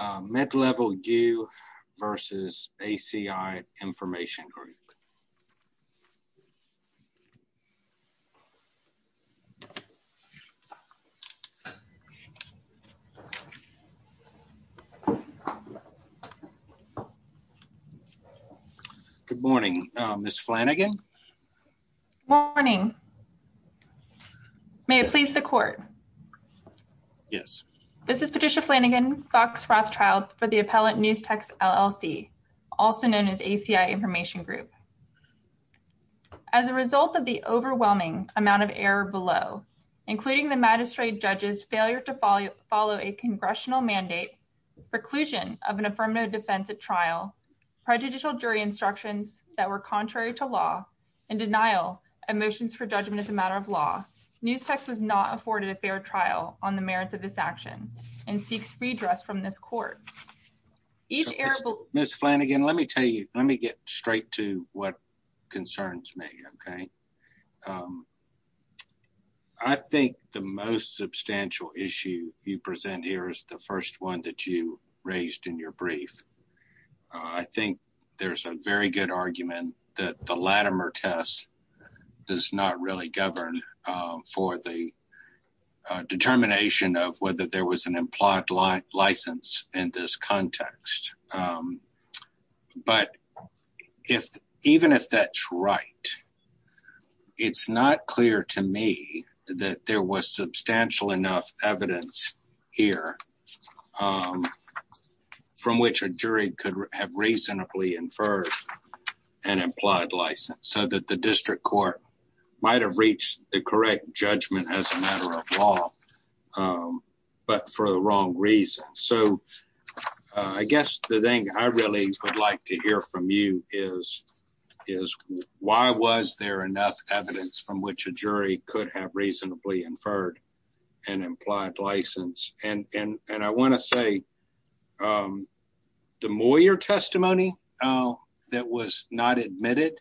MidlevelU v. ACI Information Group Good morning, Ms. Flanagan Good morning May I please the court? Yes This is Patricia Flanagan, Fox Wrath Trial for the appellant Newstex LLC, also known as ACI Information Group As a result of the overwhelming amount of error below, including the magistrate judge's failure to follow a congressional mandate, preclusion of an affirmative defense at trial, prejudicial jury instructions that were contrary to law, and denial of motions for judgment as a matter of law, Newstex was not afforded a fair trial on the merits of this action and seeks redress from this court. Ms. Flanagan, let me tell you, let me get straight to what concerns me, okay? I think the most substantial issue you present here is the first one that you raised in your brief. I think there's a very good argument that the Latimer test does not really govern for the determination of whether there was an implied license in this context. But even if that's right, it's not clear to me that there was substantial enough evidence here from which a jury could have reasonably inferred an implied license, so that the district court might have reached the correct judgment as a matter of law, but for the wrong reason. So I guess the thing I really would like to hear from you is, why was there enough evidence from which a jury could have reasonably inferred an implied license? And I want to say, the Moyer testimony that was not admitted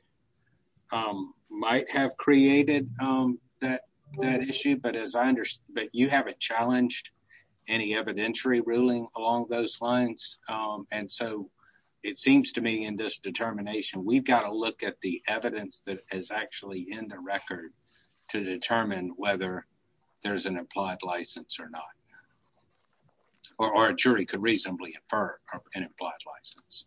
might have created that issue, but you haven't challenged any evidentiary ruling along those lines, and so it seems to me in this determination we've got to look at the evidence that is actually in the record to determine whether there's an implied license or not. Or a jury could reasonably infer an implied license.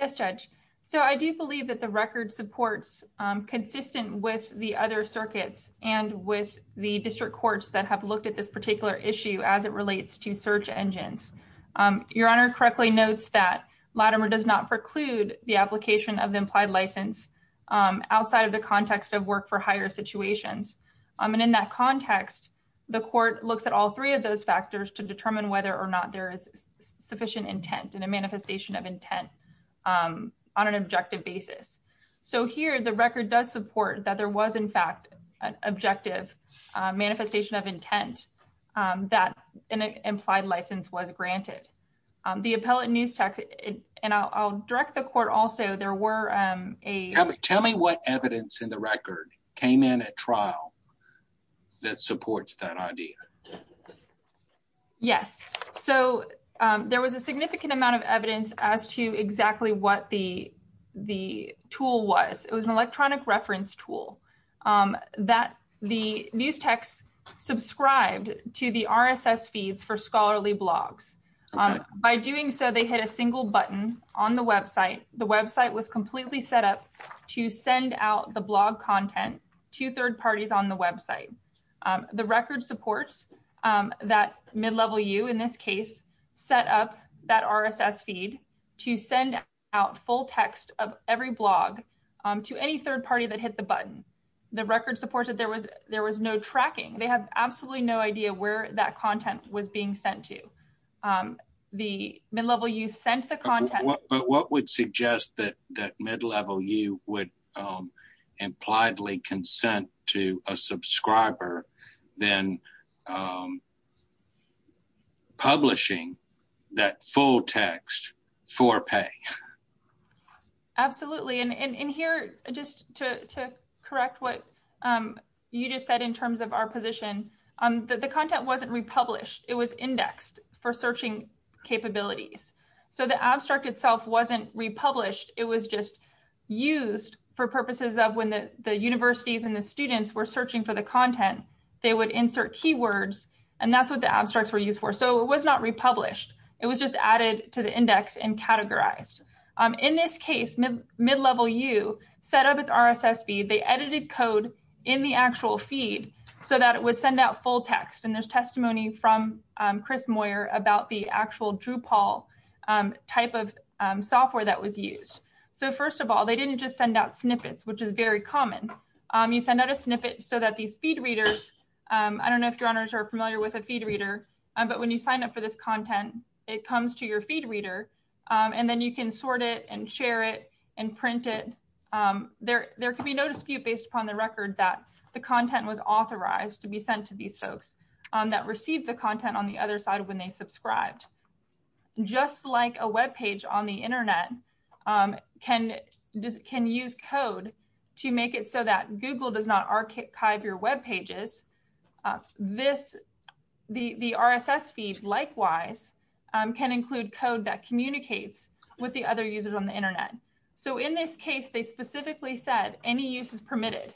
Yes, Judge. So I do believe that the record supports consistent with the other circuits and with the district courts that have looked at this particular issue as it relates to search engines. Your Honor correctly notes that Latimer does not preclude the application of the implied license outside of the context of work for hire situations. And in that context, the court looks at all three of those factors to determine whether or not there is sufficient intent and a manifestation of intent on an objective basis. So here the record does support that there was in fact an objective manifestation of intent that an implied license was granted. The appellate news text, and I'll direct the court also, there were a… Tell me what evidence in the record came in at trial that supports that idea. Yes, so there was a significant amount of evidence as to exactly what the tool was. It was an electronic reference tool that the news text subscribed to the RSS feeds for scholarly blogs. By doing so, they hit a single button on the website. The website was completely set up to send out the blog content to third parties on the website. The record supports that mid-level you, in this case, set up that RSS feed to send out full text of every blog to any third party that hit the button. The record supports that there was no tracking. They have absolutely no idea where that content was being sent to. The mid-level you sent the content… But what would suggest that mid-level you would impliedly consent to a subscriber then publishing that full text for pay? Absolutely. And here, just to correct what you just said in terms of our position, the content wasn't republished. It was indexed for searching capabilities. So the abstract itself wasn't republished. It was just used for purposes of when the universities and the students were searching for the content, they would insert keywords. And that's what the abstracts were used for. So it was not republished. It was just added to the index and categorized. In this case, mid-level you set up its RSS feed. They edited code in the actual feed so that it would send out full text. And there's testimony from Chris Moyer about the actual Drupal type of software that was used. So first of all, they didn't just send out snippets, which is very common. You send out a snippet so that these feed readers… I don't know if you're familiar with a feed reader, but when you sign up for this content, it comes to your feed reader. And then you can sort it and share it and print it. There can be no dispute based upon the record that the content was authorized to be sent to these folks that received the content on the other side when they subscribed. Just like a web page on the Internet can use code to make it so that Google does not archive your web pages, the RSS feed likewise can include code that communicates with the other users on the Internet. So in this case, they specifically said any use is permitted.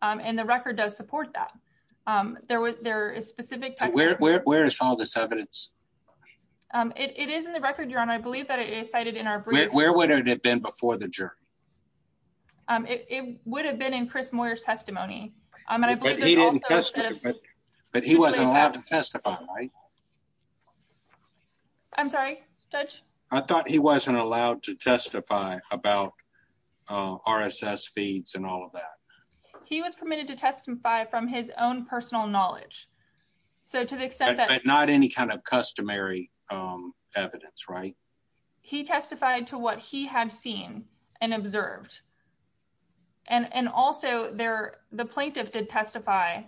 And the record does support that. Where is all this evidence? It is in the record, Your Honor. I believe that it is cited in our brief. Where would it have been before the jury? It would have been in Chris Moyer's testimony. But he wasn't allowed to testify, right? I'm sorry, Judge? I thought he wasn't allowed to testify about RSS feeds and all of that. He was permitted to testify from his own personal knowledge. But not any kind of customary evidence, right? He testified to what he had seen and observed. And also, the plaintiff did testify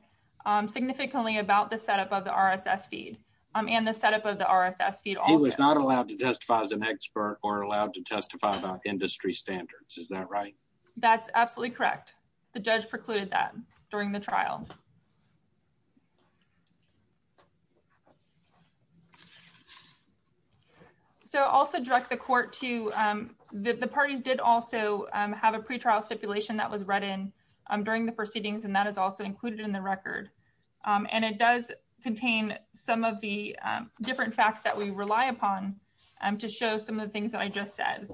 significantly about the setup of the RSS feed and the setup of the RSS feed also. He was not allowed to testify as an expert or allowed to testify about industry standards. Is that right? That's absolutely correct. The judge precluded that during the trial. So also direct the court to the parties did also have a pretrial stipulation that was read in during the proceedings. And that is also included in the record. And it does contain some of the different facts that we rely upon to show some of the things that I just said.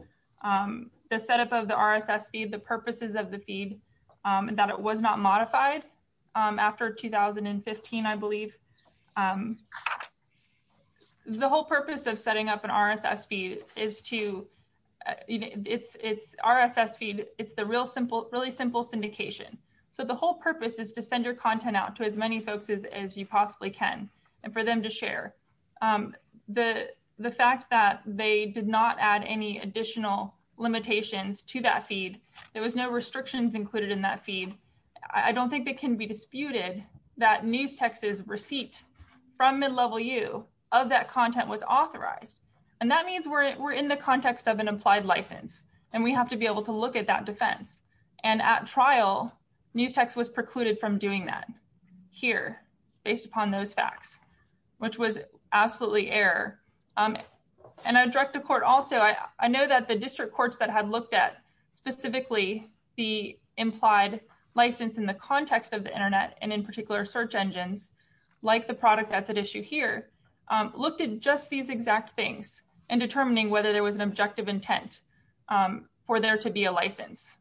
The setup of the RSS feed, the purposes of the feed, that it was not modified after 2015, I believe. The whole purpose of setting up an RSS feed is to, it's RSS feed, it's the real simple, really simple syndication. So the whole purpose is to send your content out to as many folks as you possibly can and for them to share. The fact that they did not add any additional limitations to that feed, there was no restrictions included in that feed. I don't think that can be disputed that Newstex's receipt from mid-level U of that content was authorized. And that means we're in the context of an applied license and we have to be able to look at that defense. And at trial, Newstex was precluded from doing that here based upon those facts, which was absolutely error. And I direct the court also, I know that the district courts that had looked at specifically the implied license in the context of the internet and in particular search engines, like the product that's at issue here, looked at just these exact things and determining whether there was an objective intent for there to be a license.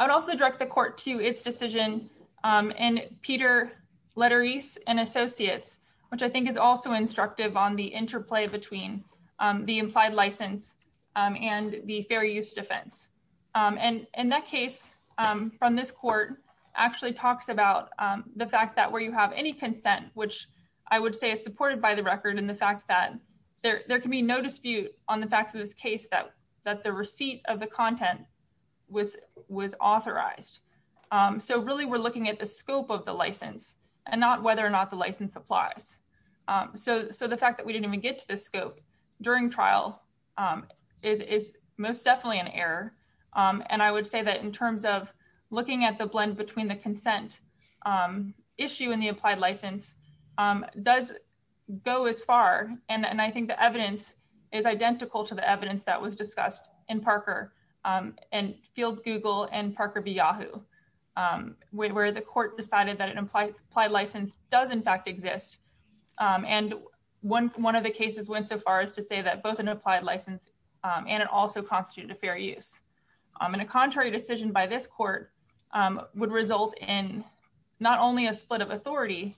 I would also direct the court to its decision and Peter Lederese and associates, which I think is also instructive on the interplay between the implied license and the fair use defense. And in that case, from this court, actually talks about the fact that where you have any consent, which I would say is supported by the record and the fact that there can be no dispute on the facts of this case that the receipt of the content was authorized. So really, we're looking at the scope of the license and not whether or not the license applies. So the fact that we didn't even get to the scope during trial is most definitely an error. And I would say that in terms of looking at the blend between the consent issue and the applied license does go as far. And I think the evidence is identical to the evidence that was discussed in Parker and Field Google and Parker BeYahoo, where the court decided that an implied license does in fact exist. And one of the cases went so far as to say that both an applied license and it also constituted a fair use. And a contrary decision by this court would result in not only a split of authority,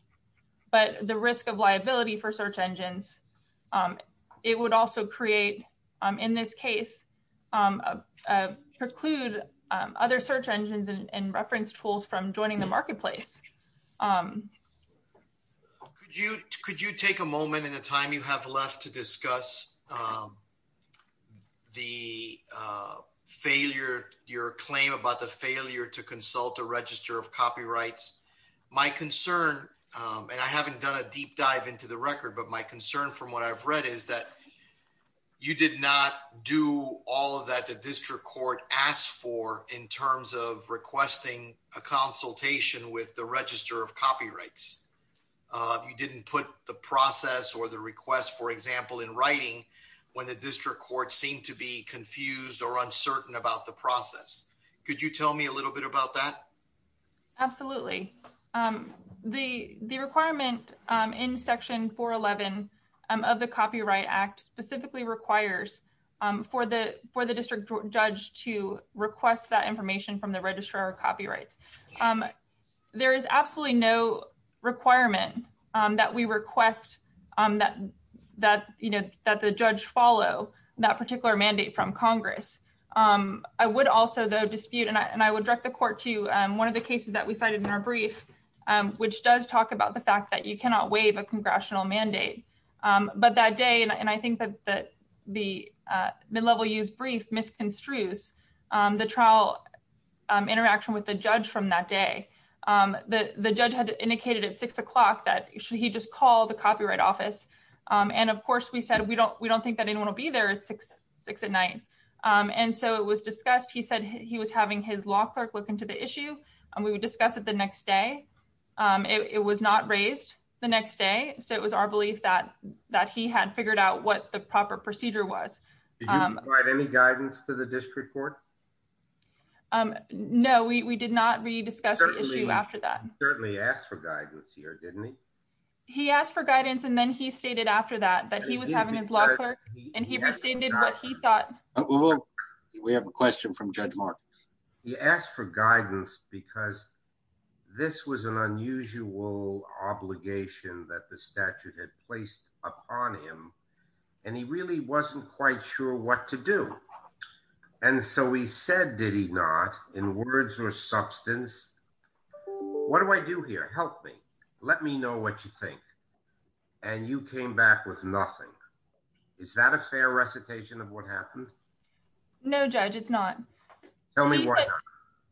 but the risk of liability for search engines. It would also create, in this case, preclude other search engines and reference tools from joining the marketplace. Could you take a moment in the time you have left to discuss the failure, your claim about the failure to consult a register of copyrights? My concern, and I haven't done a deep dive into the record, but my concern from what I've read is that you did not do all of that the district court asked for in terms of requesting a consultation with the register of copyrights. You didn't put the process or the request, for example, in writing when the district court seemed to be confused or uncertain about the process. Could you tell me a little bit about that? Absolutely. The requirement in Section 411 of the Copyright Act specifically requires for the district judge to request that information from the register of copyrights. There is absolutely no requirement that we request that the judge follow that particular mandate from Congress. I would also, though, dispute, and I would direct the court to one of the cases that we cited in our brief, which does talk about the fact that you cannot waive a congressional mandate. But that day, and I think that the mid-level use brief misconstrues the trial interaction with the judge from that day. The judge had indicated at 6 o'clock that he should just call the copyright office. And of course, we said we don't think that anyone will be there at 6 at night. And so it was discussed. He said he was having his law clerk look into the issue, and we would discuss it the next day. It was not raised the next day, so it was our belief that he had figured out what the proper procedure was. Did you provide any guidance to the district court? No, we did not rediscuss the issue after that. He certainly asked for guidance here, didn't he? He asked for guidance, and then he stated after that that he was having his law clerk, and he restated what he thought. We have a question from Judge Marcus. He asked for guidance because this was an unusual obligation that the statute had placed upon him, and he really wasn't quite sure what to do. And so he said, did he not, in words or substance, what do I do here? Help me. Let me know what you think. And you came back with nothing. Is that a fair recitation of what happened? No, Judge, it's not. Tell me why not.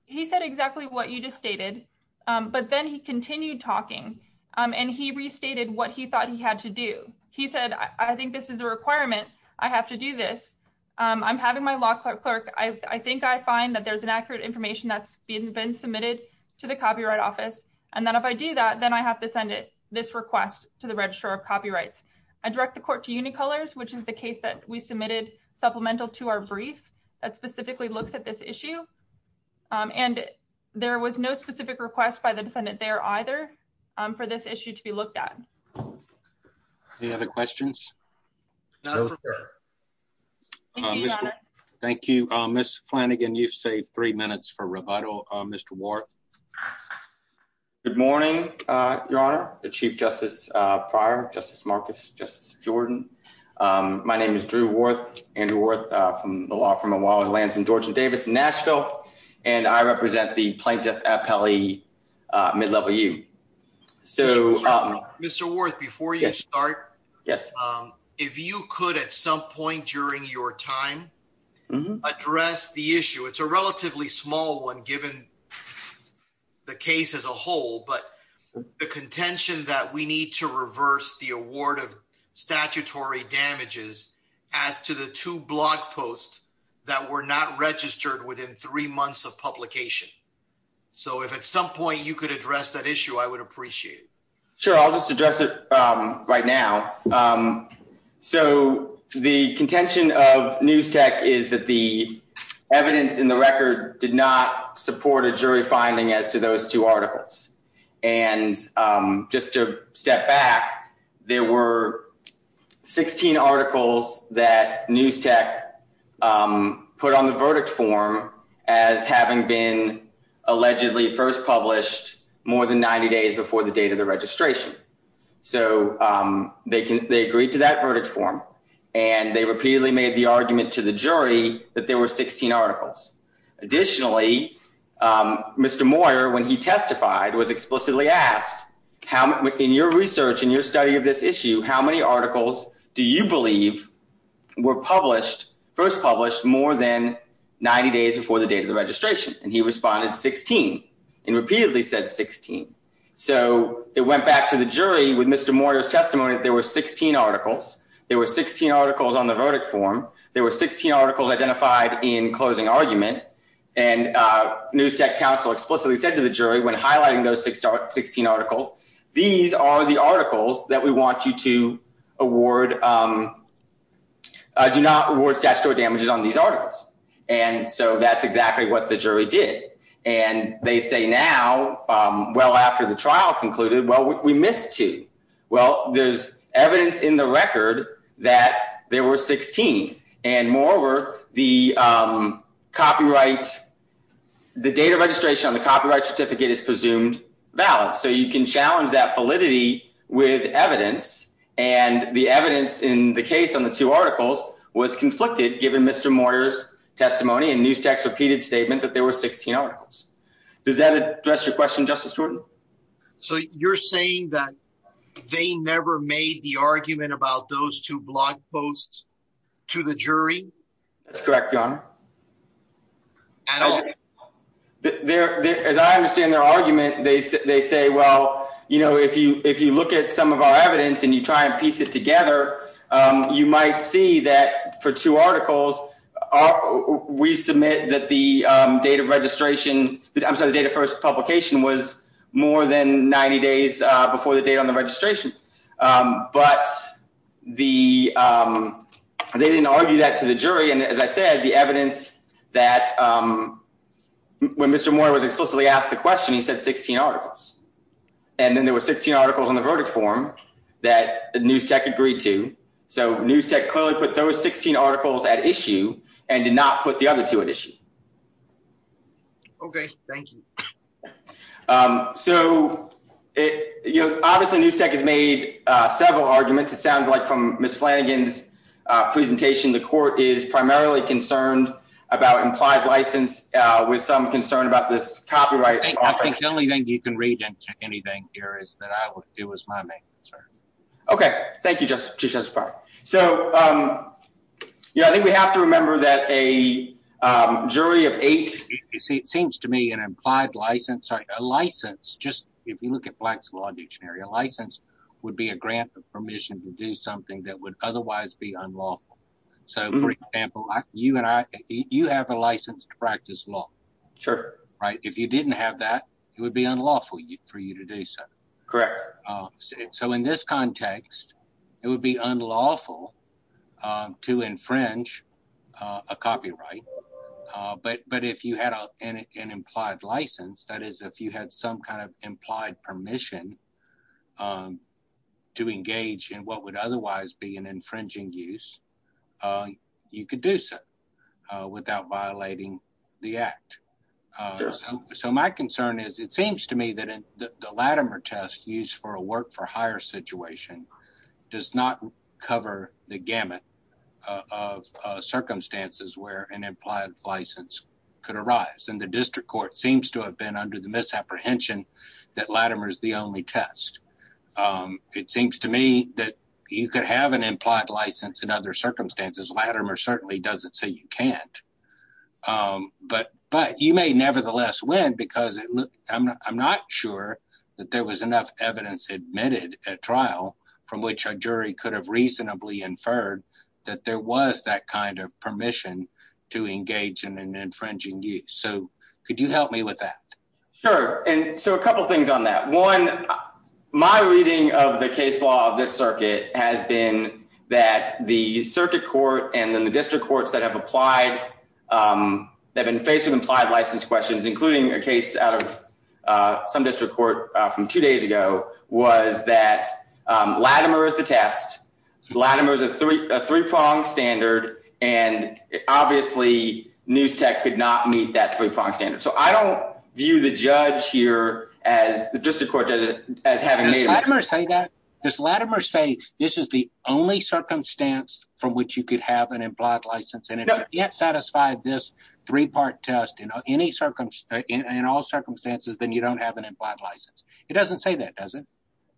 He said exactly what you just stated, but then he continued talking, and he restated what he thought he had to do. He said, I think this is a requirement. I have to do this. I'm having my law clerk. I think I find that there's inaccurate information that's been submitted to the Copyright Office, and then if I do that, then I have to send this request to the Registrar of Copyrights. I direct the court to Unicolors, which is the case that we submitted supplemental to our brief that specifically looks at this issue. And there was no specific request by the defendant there either for this issue to be looked at. Any other questions? Thank you, Ms. Flanagan. You've saved three minutes for rebuttal. Mr. Worth. Good morning, Your Honor, Chief Justice Pryor, Justice Marcus, Justice Jordan. My name is Drew Worth, Andrew Worth, from the law firm of Wallinglands and George and Davis in Nashville. And I represent the plaintiff at Pele, mid-level U. Mr. Worth, before you start, if you could, at some point during your time, address the issue. It's a relatively small one, given the case as a whole, but the contention that we need to reverse the award of statutory damages as to the two blog posts that were not registered within three months of publication. So if at some point you could address that issue, I would appreciate it. Sure, I'll just address it right now. So the contention of NewsTech is that the evidence in the record did not support a jury finding as to those two articles. And just to step back, there were 16 articles that NewsTech put on the verdict form as having been allegedly first published more than 90 days before the date of the registration. So they agreed to that verdict form, and they repeatedly made the argument to the jury that there were 16 articles. Additionally, Mr. Moyer, when he testified, was explicitly asked, in your research, in your study of this issue, how many articles do you believe were first published more than 90 days before the date of the registration? And he responded, 16, and repeatedly said 16. So it went back to the jury with Mr. Moyer's testimony that there were 16 articles. There were 16 articles on the verdict form. There were 16 articles identified in closing argument. And NewsTech counsel explicitly said to the jury, when highlighting those 16 articles, these are the articles that we want you to award, do not award statutory damages on these articles. And so that's exactly what the jury did. And they say now, well, after the trial concluded, well, we missed two. Well, there's evidence in the record that there were 16. And moreover, the copyright, the date of registration on the copyright certificate is presumed valid. So you can challenge that validity with evidence. And the evidence in the case on the two articles was conflicted, given Mr. Moyer's testimony and NewsTech's repeated statement that there were 16 articles. Does that address your question, Justice Jordan? So you're saying that they never made the argument about those two blog posts to the jury? That's correct, Your Honor. At all? As I understand their argument, they say, well, you know, if you look at some of our evidence and you try and piece it together, you might see that for two articles, we submit that the date of registration, I'm sorry, the date of first publication was more than 90 days before the date on the registration. But they didn't argue that to the jury. And as I said, the evidence that when Mr. Moyer was explicitly asked the question, he said 16 articles. And then there were 16 articles on the verdict form that NewsTech agreed to. So NewsTech clearly put those 16 articles at issue and did not put the other two at issue. OK, thank you. So, you know, obviously NewsTech has made several arguments. It sounds like from Ms. Flanagan's presentation, the court is primarily concerned about implied license with some concern about this copyright. I think the only thing you can read into anything here is that it was my main concern. OK, thank you, Justice Breyer. So, yeah, I think we have to remember that a jury of eight. It seems to me an implied license, a license, just if you look at Black's Law Dictionary, a license would be a grant of permission to do something that would otherwise be unlawful. So, for example, you and I, you have a license to practice law. Sure. Right. If you didn't have that, it would be unlawful for you to do so. Correct. So in this context, it would be unlawful to infringe a copyright. But if you had an implied license, that is, if you had some kind of implied permission to engage in what would otherwise be an infringing use, you could do so without violating the act. So my concern is it seems to me that the Latimer test used for a work for hire situation does not cover the gamut of circumstances where an implied license could arise. And the district court seems to have been under the misapprehension that Latimer is the only test. It seems to me that you could have an implied license in other circumstances. Latimer certainly doesn't say you can't. But you may nevertheless win because I'm not sure that there was enough evidence admitted at trial from which a jury could have reasonably inferred that there was that kind of permission to engage in an infringing use. So could you help me with that? Sure. And so a couple of things on that. One, my reading of the case law of this circuit has been that the circuit court and then the district courts that have applied, that have been faced with implied license questions, including a case out of some district court from two days ago, was that Latimer is the test. Latimer is a three-pronged standard. And obviously, NewsTech could not meet that three-pronged standard. So I don't view the judge here, the district court, as having made a mistake. Does Latimer say that? Does Latimer say this is the only circumstance from which you could have an implied license? And if you can't satisfy this three-part test in all circumstances, then you don't have an implied license. It doesn't say that, does it?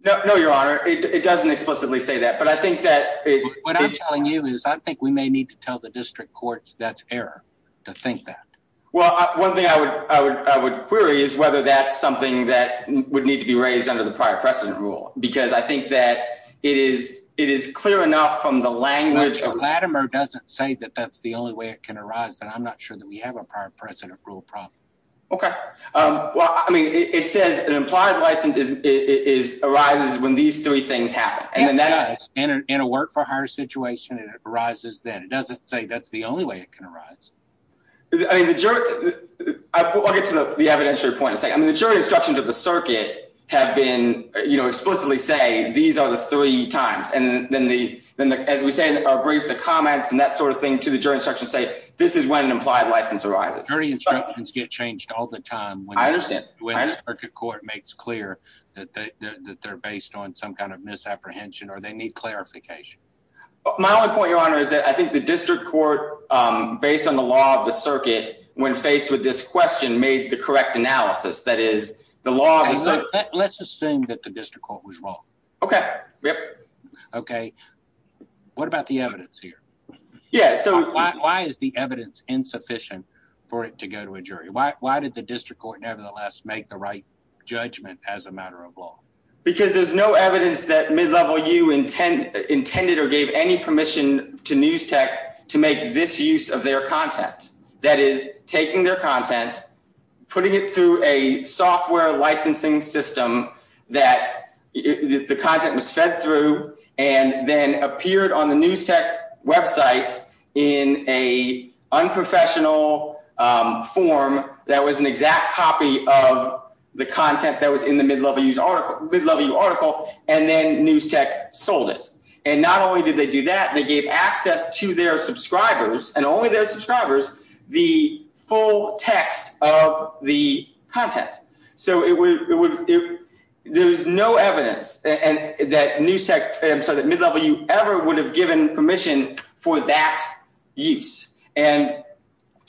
No, Your Honor. It doesn't explicitly say that. What I'm telling you is I think we may need to tell the district courts that's error to think that. Well, one thing I would query is whether that's something that would need to be raised under the prior precedent rule. Because I think that it is clear enough from the language of— Latimer doesn't say that that's the only way it can arise, that I'm not sure that we have a prior precedent rule problem. Okay. Well, I mean, it says an implied license arises when these three things happen. Yes, it does. In a work-for-hire situation, it arises then. It doesn't say that's the only way it can arise. I mean, the jury—I'll get to the evidentiary point in a second. I mean, the jury instructions of the circuit have been, you know, explicitly say these are the three times. And then, as we say in our brief, the comments and that sort of thing to the jury instructions say this is when an implied license arises. Jury instructions get changed all the time when the circuit court makes clear that they're based on some kind of misapprehension or they need clarification. My only point, Your Honor, is that I think the district court, based on the law of the circuit, when faced with this question, made the correct analysis. That is, the law of the circuit— Let's assume that the district court was wrong. Okay. Yep. Okay. What about the evidence here? Yeah, so— Why is the evidence insufficient for it to go to a jury? Why did the district court nevertheless make the right judgment as a matter of law? Because there's no evidence that mid-level you intended or gave any permission to NewsTek to make this use of their content. That is, taking their content, putting it through a software licensing system that the content was fed through, and then appeared on the NewsTek website in an unprofessional form that was an exact copy of the content that was in the mid-level article, and then NewsTek sold it. And not only did they do that, they gave access to their subscribers, and only their subscribers, the full text of the content. So there's no evidence that Mid-Level U ever would have given permission for that use. And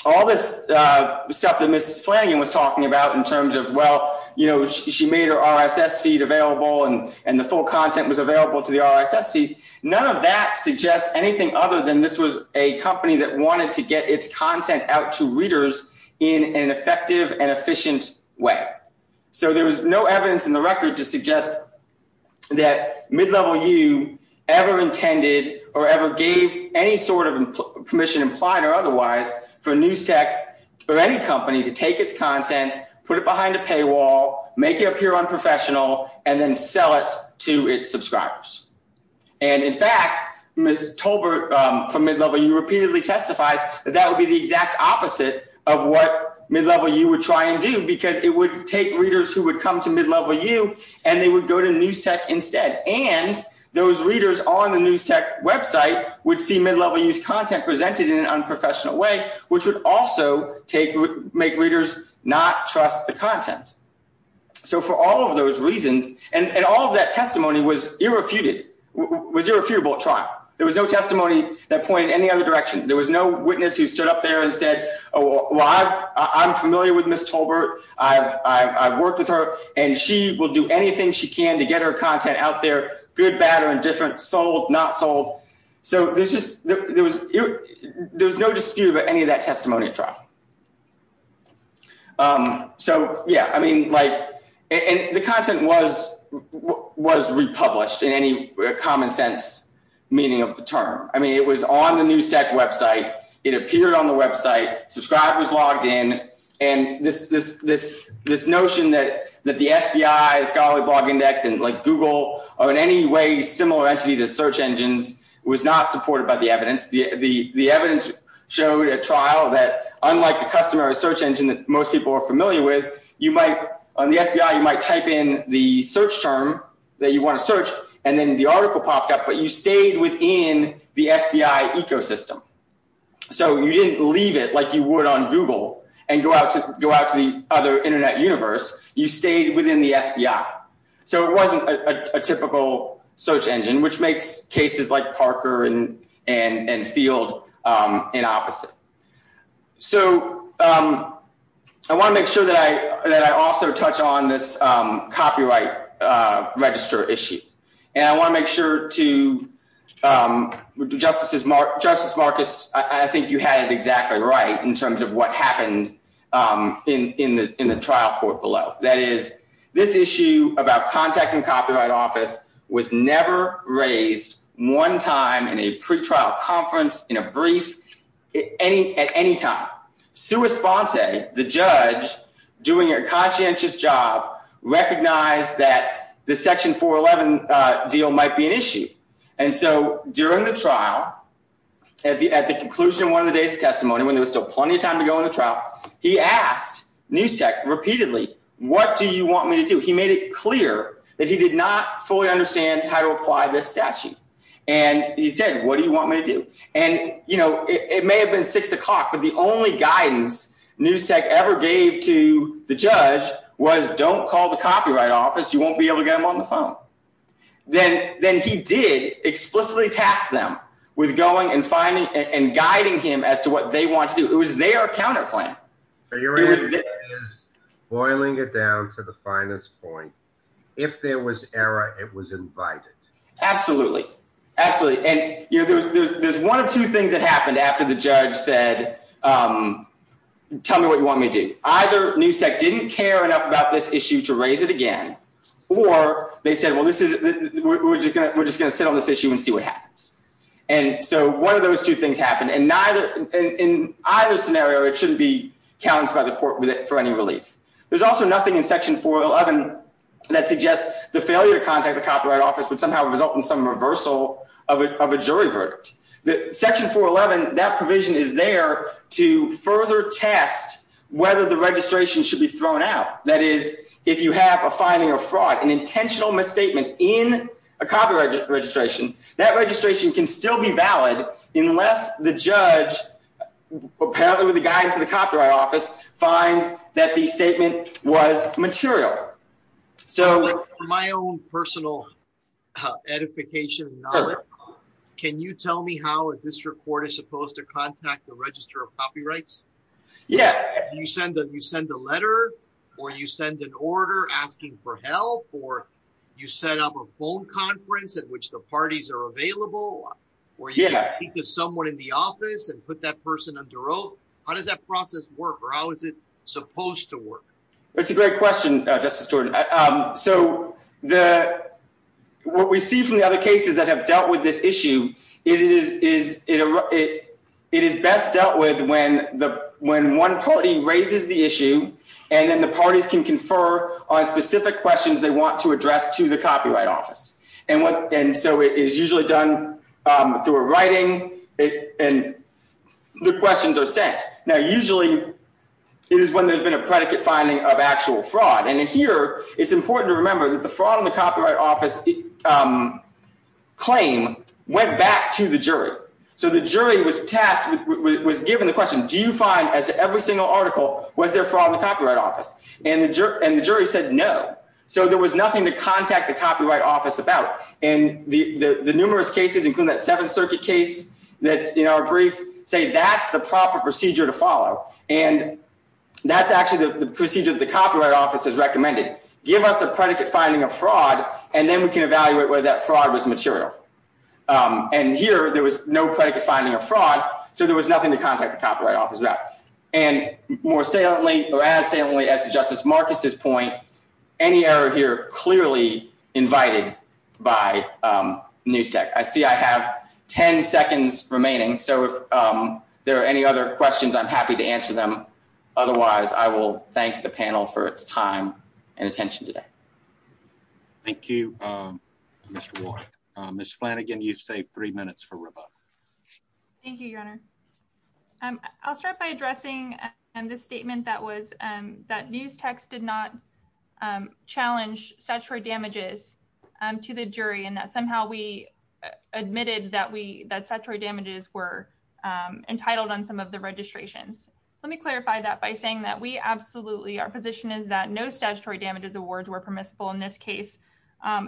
all this stuff that Mrs. Flanagan was talking about in terms of, well, you know, she made her RSS feed available, and the full content was available to the RSS feed, none of that suggests anything other than this was a company that wanted to get its content out to readers in an effective and efficient way. So there was no evidence in the record to suggest that Mid-Level U ever intended or ever gave any sort of permission, implied or otherwise, for NewsTek or any company to take its content, put it behind a paywall, make it appear unprofessional, and then sell it to its subscribers. And in fact, Ms. Tolbert from Mid-Level U repeatedly testified that that would be the exact opposite of what Mid-Level U would try and do, because it would take readers who would come to Mid-Level U, and they would go to NewsTek instead. And those readers on the NewsTek website would see Mid-Level U's content presented in an unprofessional way, which would also make readers not trust the content. So for all of those reasons, and all of that testimony was irrefutable at trial, there was no testimony that pointed any other direction. There was no witness who stood up there and said, well, I'm familiar with Ms. Tolbert, I've worked with her, and she will do anything she can to get her content out there, good, bad, or indifferent, sold, not sold. So there was no dispute about any of that testimony at trial. So, yeah, I mean, like, the content was republished in any common sense meaning of the term. I mean, it was on the NewsTek website, it appeared on the website, subscribers logged in, and this notion that the SBI, the Scholarly Blog Index, and like Google, or in any way similar entities as search engines, was not supported by the evidence. The evidence showed at trial that unlike the customary search engine that most people are familiar with, on the SBI you might type in the search term that you want to search, and then the article popped up, but you stayed within the SBI ecosystem. So you didn't leave it like you would on Google and go out to the other internet universe. You stayed within the SBI. So it wasn't a typical search engine, which makes cases like Parker and Field inopposite. So I want to make sure that I also touch on this copyright register issue. And I want to make sure to, Justice Marcus, I think you had it exactly right in terms of what happened in the trial court below. That is, this issue about contacting the Copyright Office was never raised one time in a pretrial conference, in a brief, at any time. Sue Esponte, the judge, doing her conscientious job, recognized that the Section 411 deal might be an issue. And so during the trial, at the conclusion of one of the days of testimony, when there was still plenty of time to go in the trial, he asked Newstech repeatedly, what do you want me to do? He made it clear that he did not fully understand how to apply this statute. And he said, what do you want me to do? And, you know, it may have been 6 o'clock, but the only guidance Newstech ever gave to the judge was don't call the Copyright Office, you won't be able to get them on the phone. Then he did explicitly task them with going and finding and guiding him as to what they want to do. It was their counter plan. Boiling it down to the finest point. If there was error, it was invited. Absolutely. Absolutely. And there's one of two things that happened after the judge said, tell me what you want me to do. Either Newstech didn't care enough about this issue to raise it again, or they said, well, we're just going to sit on this issue and see what happens. And so one of those two things happened. And in either scenario, it shouldn't be challenged by the court for any relief. There's also nothing in Section 411 that suggests the failure to contact the Copyright Office would somehow result in some reversal of a jury verdict. Section 411, that provision is there to further test whether the registration should be thrown out. That is, if you have a finding of fraud, an intentional misstatement in a copyright registration, that registration can still be valid unless the judge, apparently with the guidance of the Copyright Office, finds that the statement was material. From my own personal edification and knowledge, can you tell me how a district court is supposed to contact the Register of Copyrights? Yeah. You send a letter, or you send an order asking for help, or you set up a phone conference at which the parties are available, or you can speak to someone in the office and put that person under oath. How does that process work, or how is it supposed to work? It's a great question, Justice Jordan. So what we see from the other cases that have dealt with this issue is it is best dealt with when one party raises the issue, and then the parties can confer on specific questions they want to address to the Copyright Office. And so it is usually done through a writing, and the questions are sent. Now, usually, it is when there's been a predicate finding of actual fraud. And here, it's important to remember that the fraud in the Copyright Office claim went back to the jury. So the jury was given the question, do you find, as to every single article, was there fraud in the Copyright Office? And the jury said no. So there was nothing to contact the Copyright Office about. And the numerous cases, including that Seventh Circuit case that's in our brief, say that's the proper procedure to follow. And that's actually the procedure that the Copyright Office has recommended. Give us a predicate finding of fraud, and then we can evaluate whether that fraud was material. And here, there was no predicate finding of fraud, so there was nothing to contact the Copyright Office about. And more saliently, or as saliently as Justice Marcus's point, any error here clearly invited by NewsTech. I see I have 10 seconds remaining, so if there are any other questions, I'm happy to answer them. Otherwise, I will thank the panel for its time and attention today. Thank you, Mr. Ward. Ms. Flanagan, you've saved three minutes for rebuttal. Thank you, Your Honor. I'll start by addressing this statement that was that NewsTech did not challenge statutory damages to the jury and that somehow we admitted that statutory damages were entitled on some of the registrations. So let me clarify that by saying that we absolutely, our position is that no statutory damages awards were permissible in this case.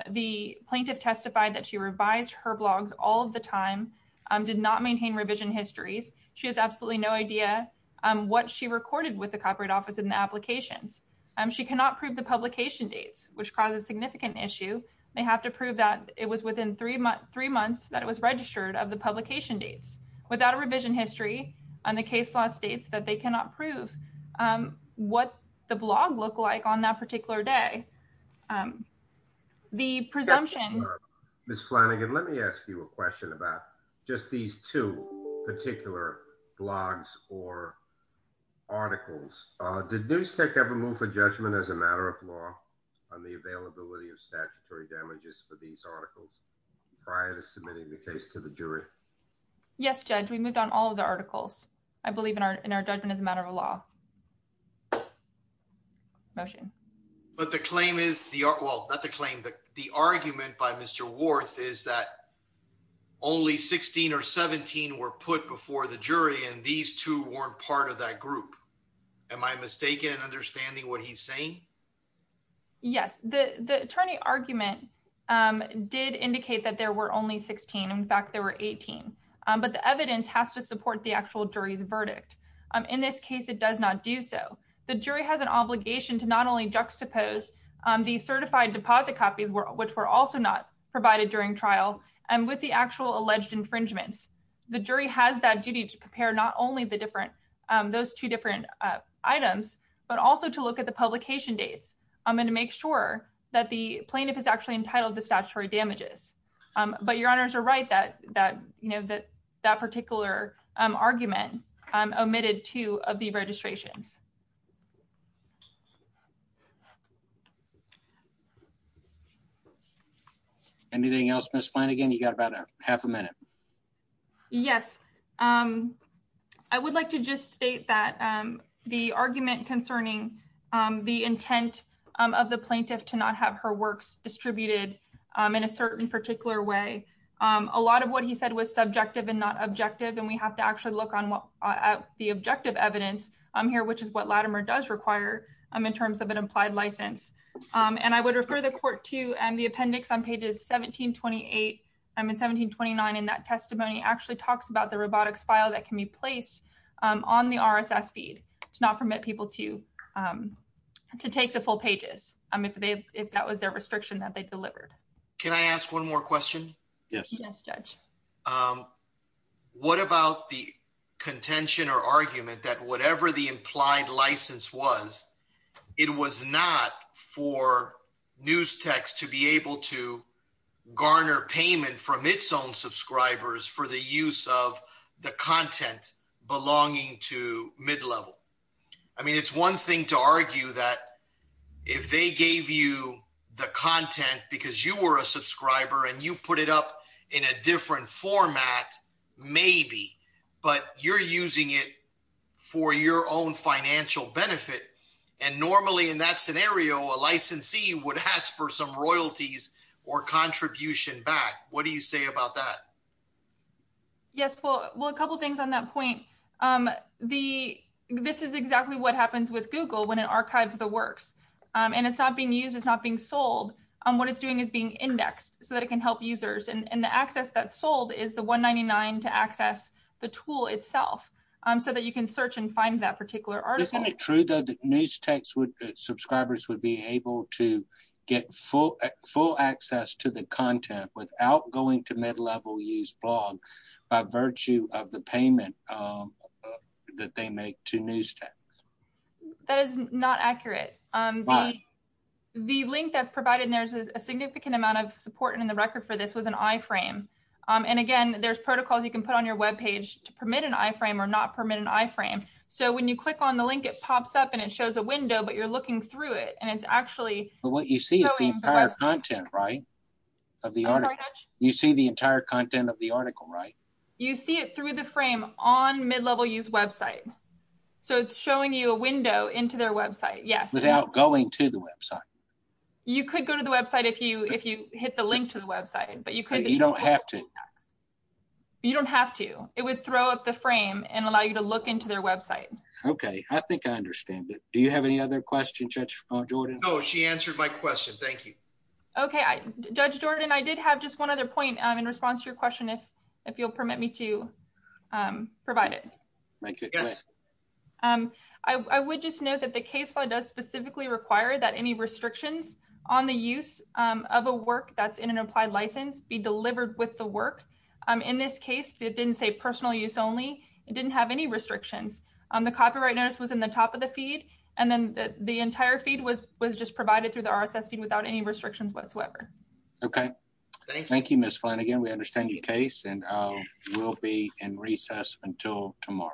The plaintiff testified that she revised her blogs all of the time, did not maintain revision histories. She has absolutely no idea what she recorded with the Copyright Office in the applications. She cannot prove the publication dates, which caused a significant issue. They have to prove that it was within three months that it was registered of the publication dates. Without a revision history on the case law states that they cannot prove what the blog look like on that particular day. The presumption. Ms. Flanagan, let me ask you a question about just these two particular blogs or articles. Did NewsTech ever move for judgment as a matter of law on the availability of statutory damages for these articles prior to submitting the case to the jury? Yes, Judge, we moved on all of the articles. I believe in our judgment as a matter of law. Motion. But the claim is the well, not the claim, the argument by Mr. Worth is that only 16 or 17 were put before the jury and these two weren't part of that group. Am I mistaken in understanding what he's saying? Yes, the attorney argument did indicate that there were only 16. In fact, there were 18. But the evidence has to support the actual jury's verdict. In this case, it does not do so. The jury has an obligation to not only juxtapose the certified deposit copies, which were also not provided during trial. And with the actual alleged infringements, the jury has that duty to compare not only the different those two different items, but also to look at the publication dates. I'm going to make sure that the plaintiff is actually entitled to statutory damages. But your honors are right that that, you know, that that particular argument omitted two of the registrations. Anything else, Miss Flanagan? You got about a half a minute. Yes. I would like to just state that the argument concerning the intent of the plaintiff to not have her works distributed in a certain particular way. A lot of what he said was subjective and not objective and we have to actually look on what the objective evidence here, which is what Latimer does require in terms of an implied license. And I would refer the court to the appendix on pages 1728 and 1729. And that testimony actually talks about the robotics file that can be placed on the RSS feed to not permit people to take the full pages. I mean, if that was their restriction that they delivered. Can I ask one more question? Yes. Yes, Judge. What about the contention or argument that whatever the implied license was, it was not for Newstex to be able to garner payment from its own subscribers for the use of the content belonging to mid-level? I mean, it's one thing to argue that if they gave you the content because you were a subscriber and you put it up in a different format, maybe, but you're using it for your own financial benefit. And normally in that scenario, a licensee would ask for some royalties or contribution back. What do you say about that? Yes, well, a couple of things on that point. This is exactly what happens with Google when it archives the works and it's not being used, it's not being sold. What it's doing is being indexed so that it can help users and the access that's sold is the $199 to access the tool itself so that you can search and find that particular article. Isn't it true that Newstex subscribers would be able to get full access to the content without going to mid-level use blog by virtue of the payment that they make to Newstex? That is not accurate. The link that's provided, and there's a significant amount of support in the record for this, was an iframe. And again, there's protocols you can put on your web page to permit an iframe or not permit an iframe. So when you click on the link, it pops up and it shows a window, but you're looking through it and it's actually... But what you see is the entire content, right? You see the entire content of the article, right? You see it through the frame on mid-level use website. So it's showing you a window into their website. Without going to the website. You could go to the website if you hit the link to the website. You don't have to. You don't have to. It would throw up the frame and allow you to look into their website. Okay. I think I understand it. Do you have any other questions, Judge Jordan? No. She answered my question. Thank you. Okay. Judge Jordan, I did have just one other point in response to your question, if you'll permit me to provide it. Yes. I would just note that the case law does specifically require that any restrictions on the use of a work that's in an applied license be delivered with the work. In this case, it didn't say personal use only. It didn't have any restrictions. The copyright notice was in the top of the feed. And then the entire feed was just provided through the RSS feed without any restrictions whatsoever. Okay. Thank you, Ms. Flanagan. We understand your case. And we'll be in recess until tomorrow.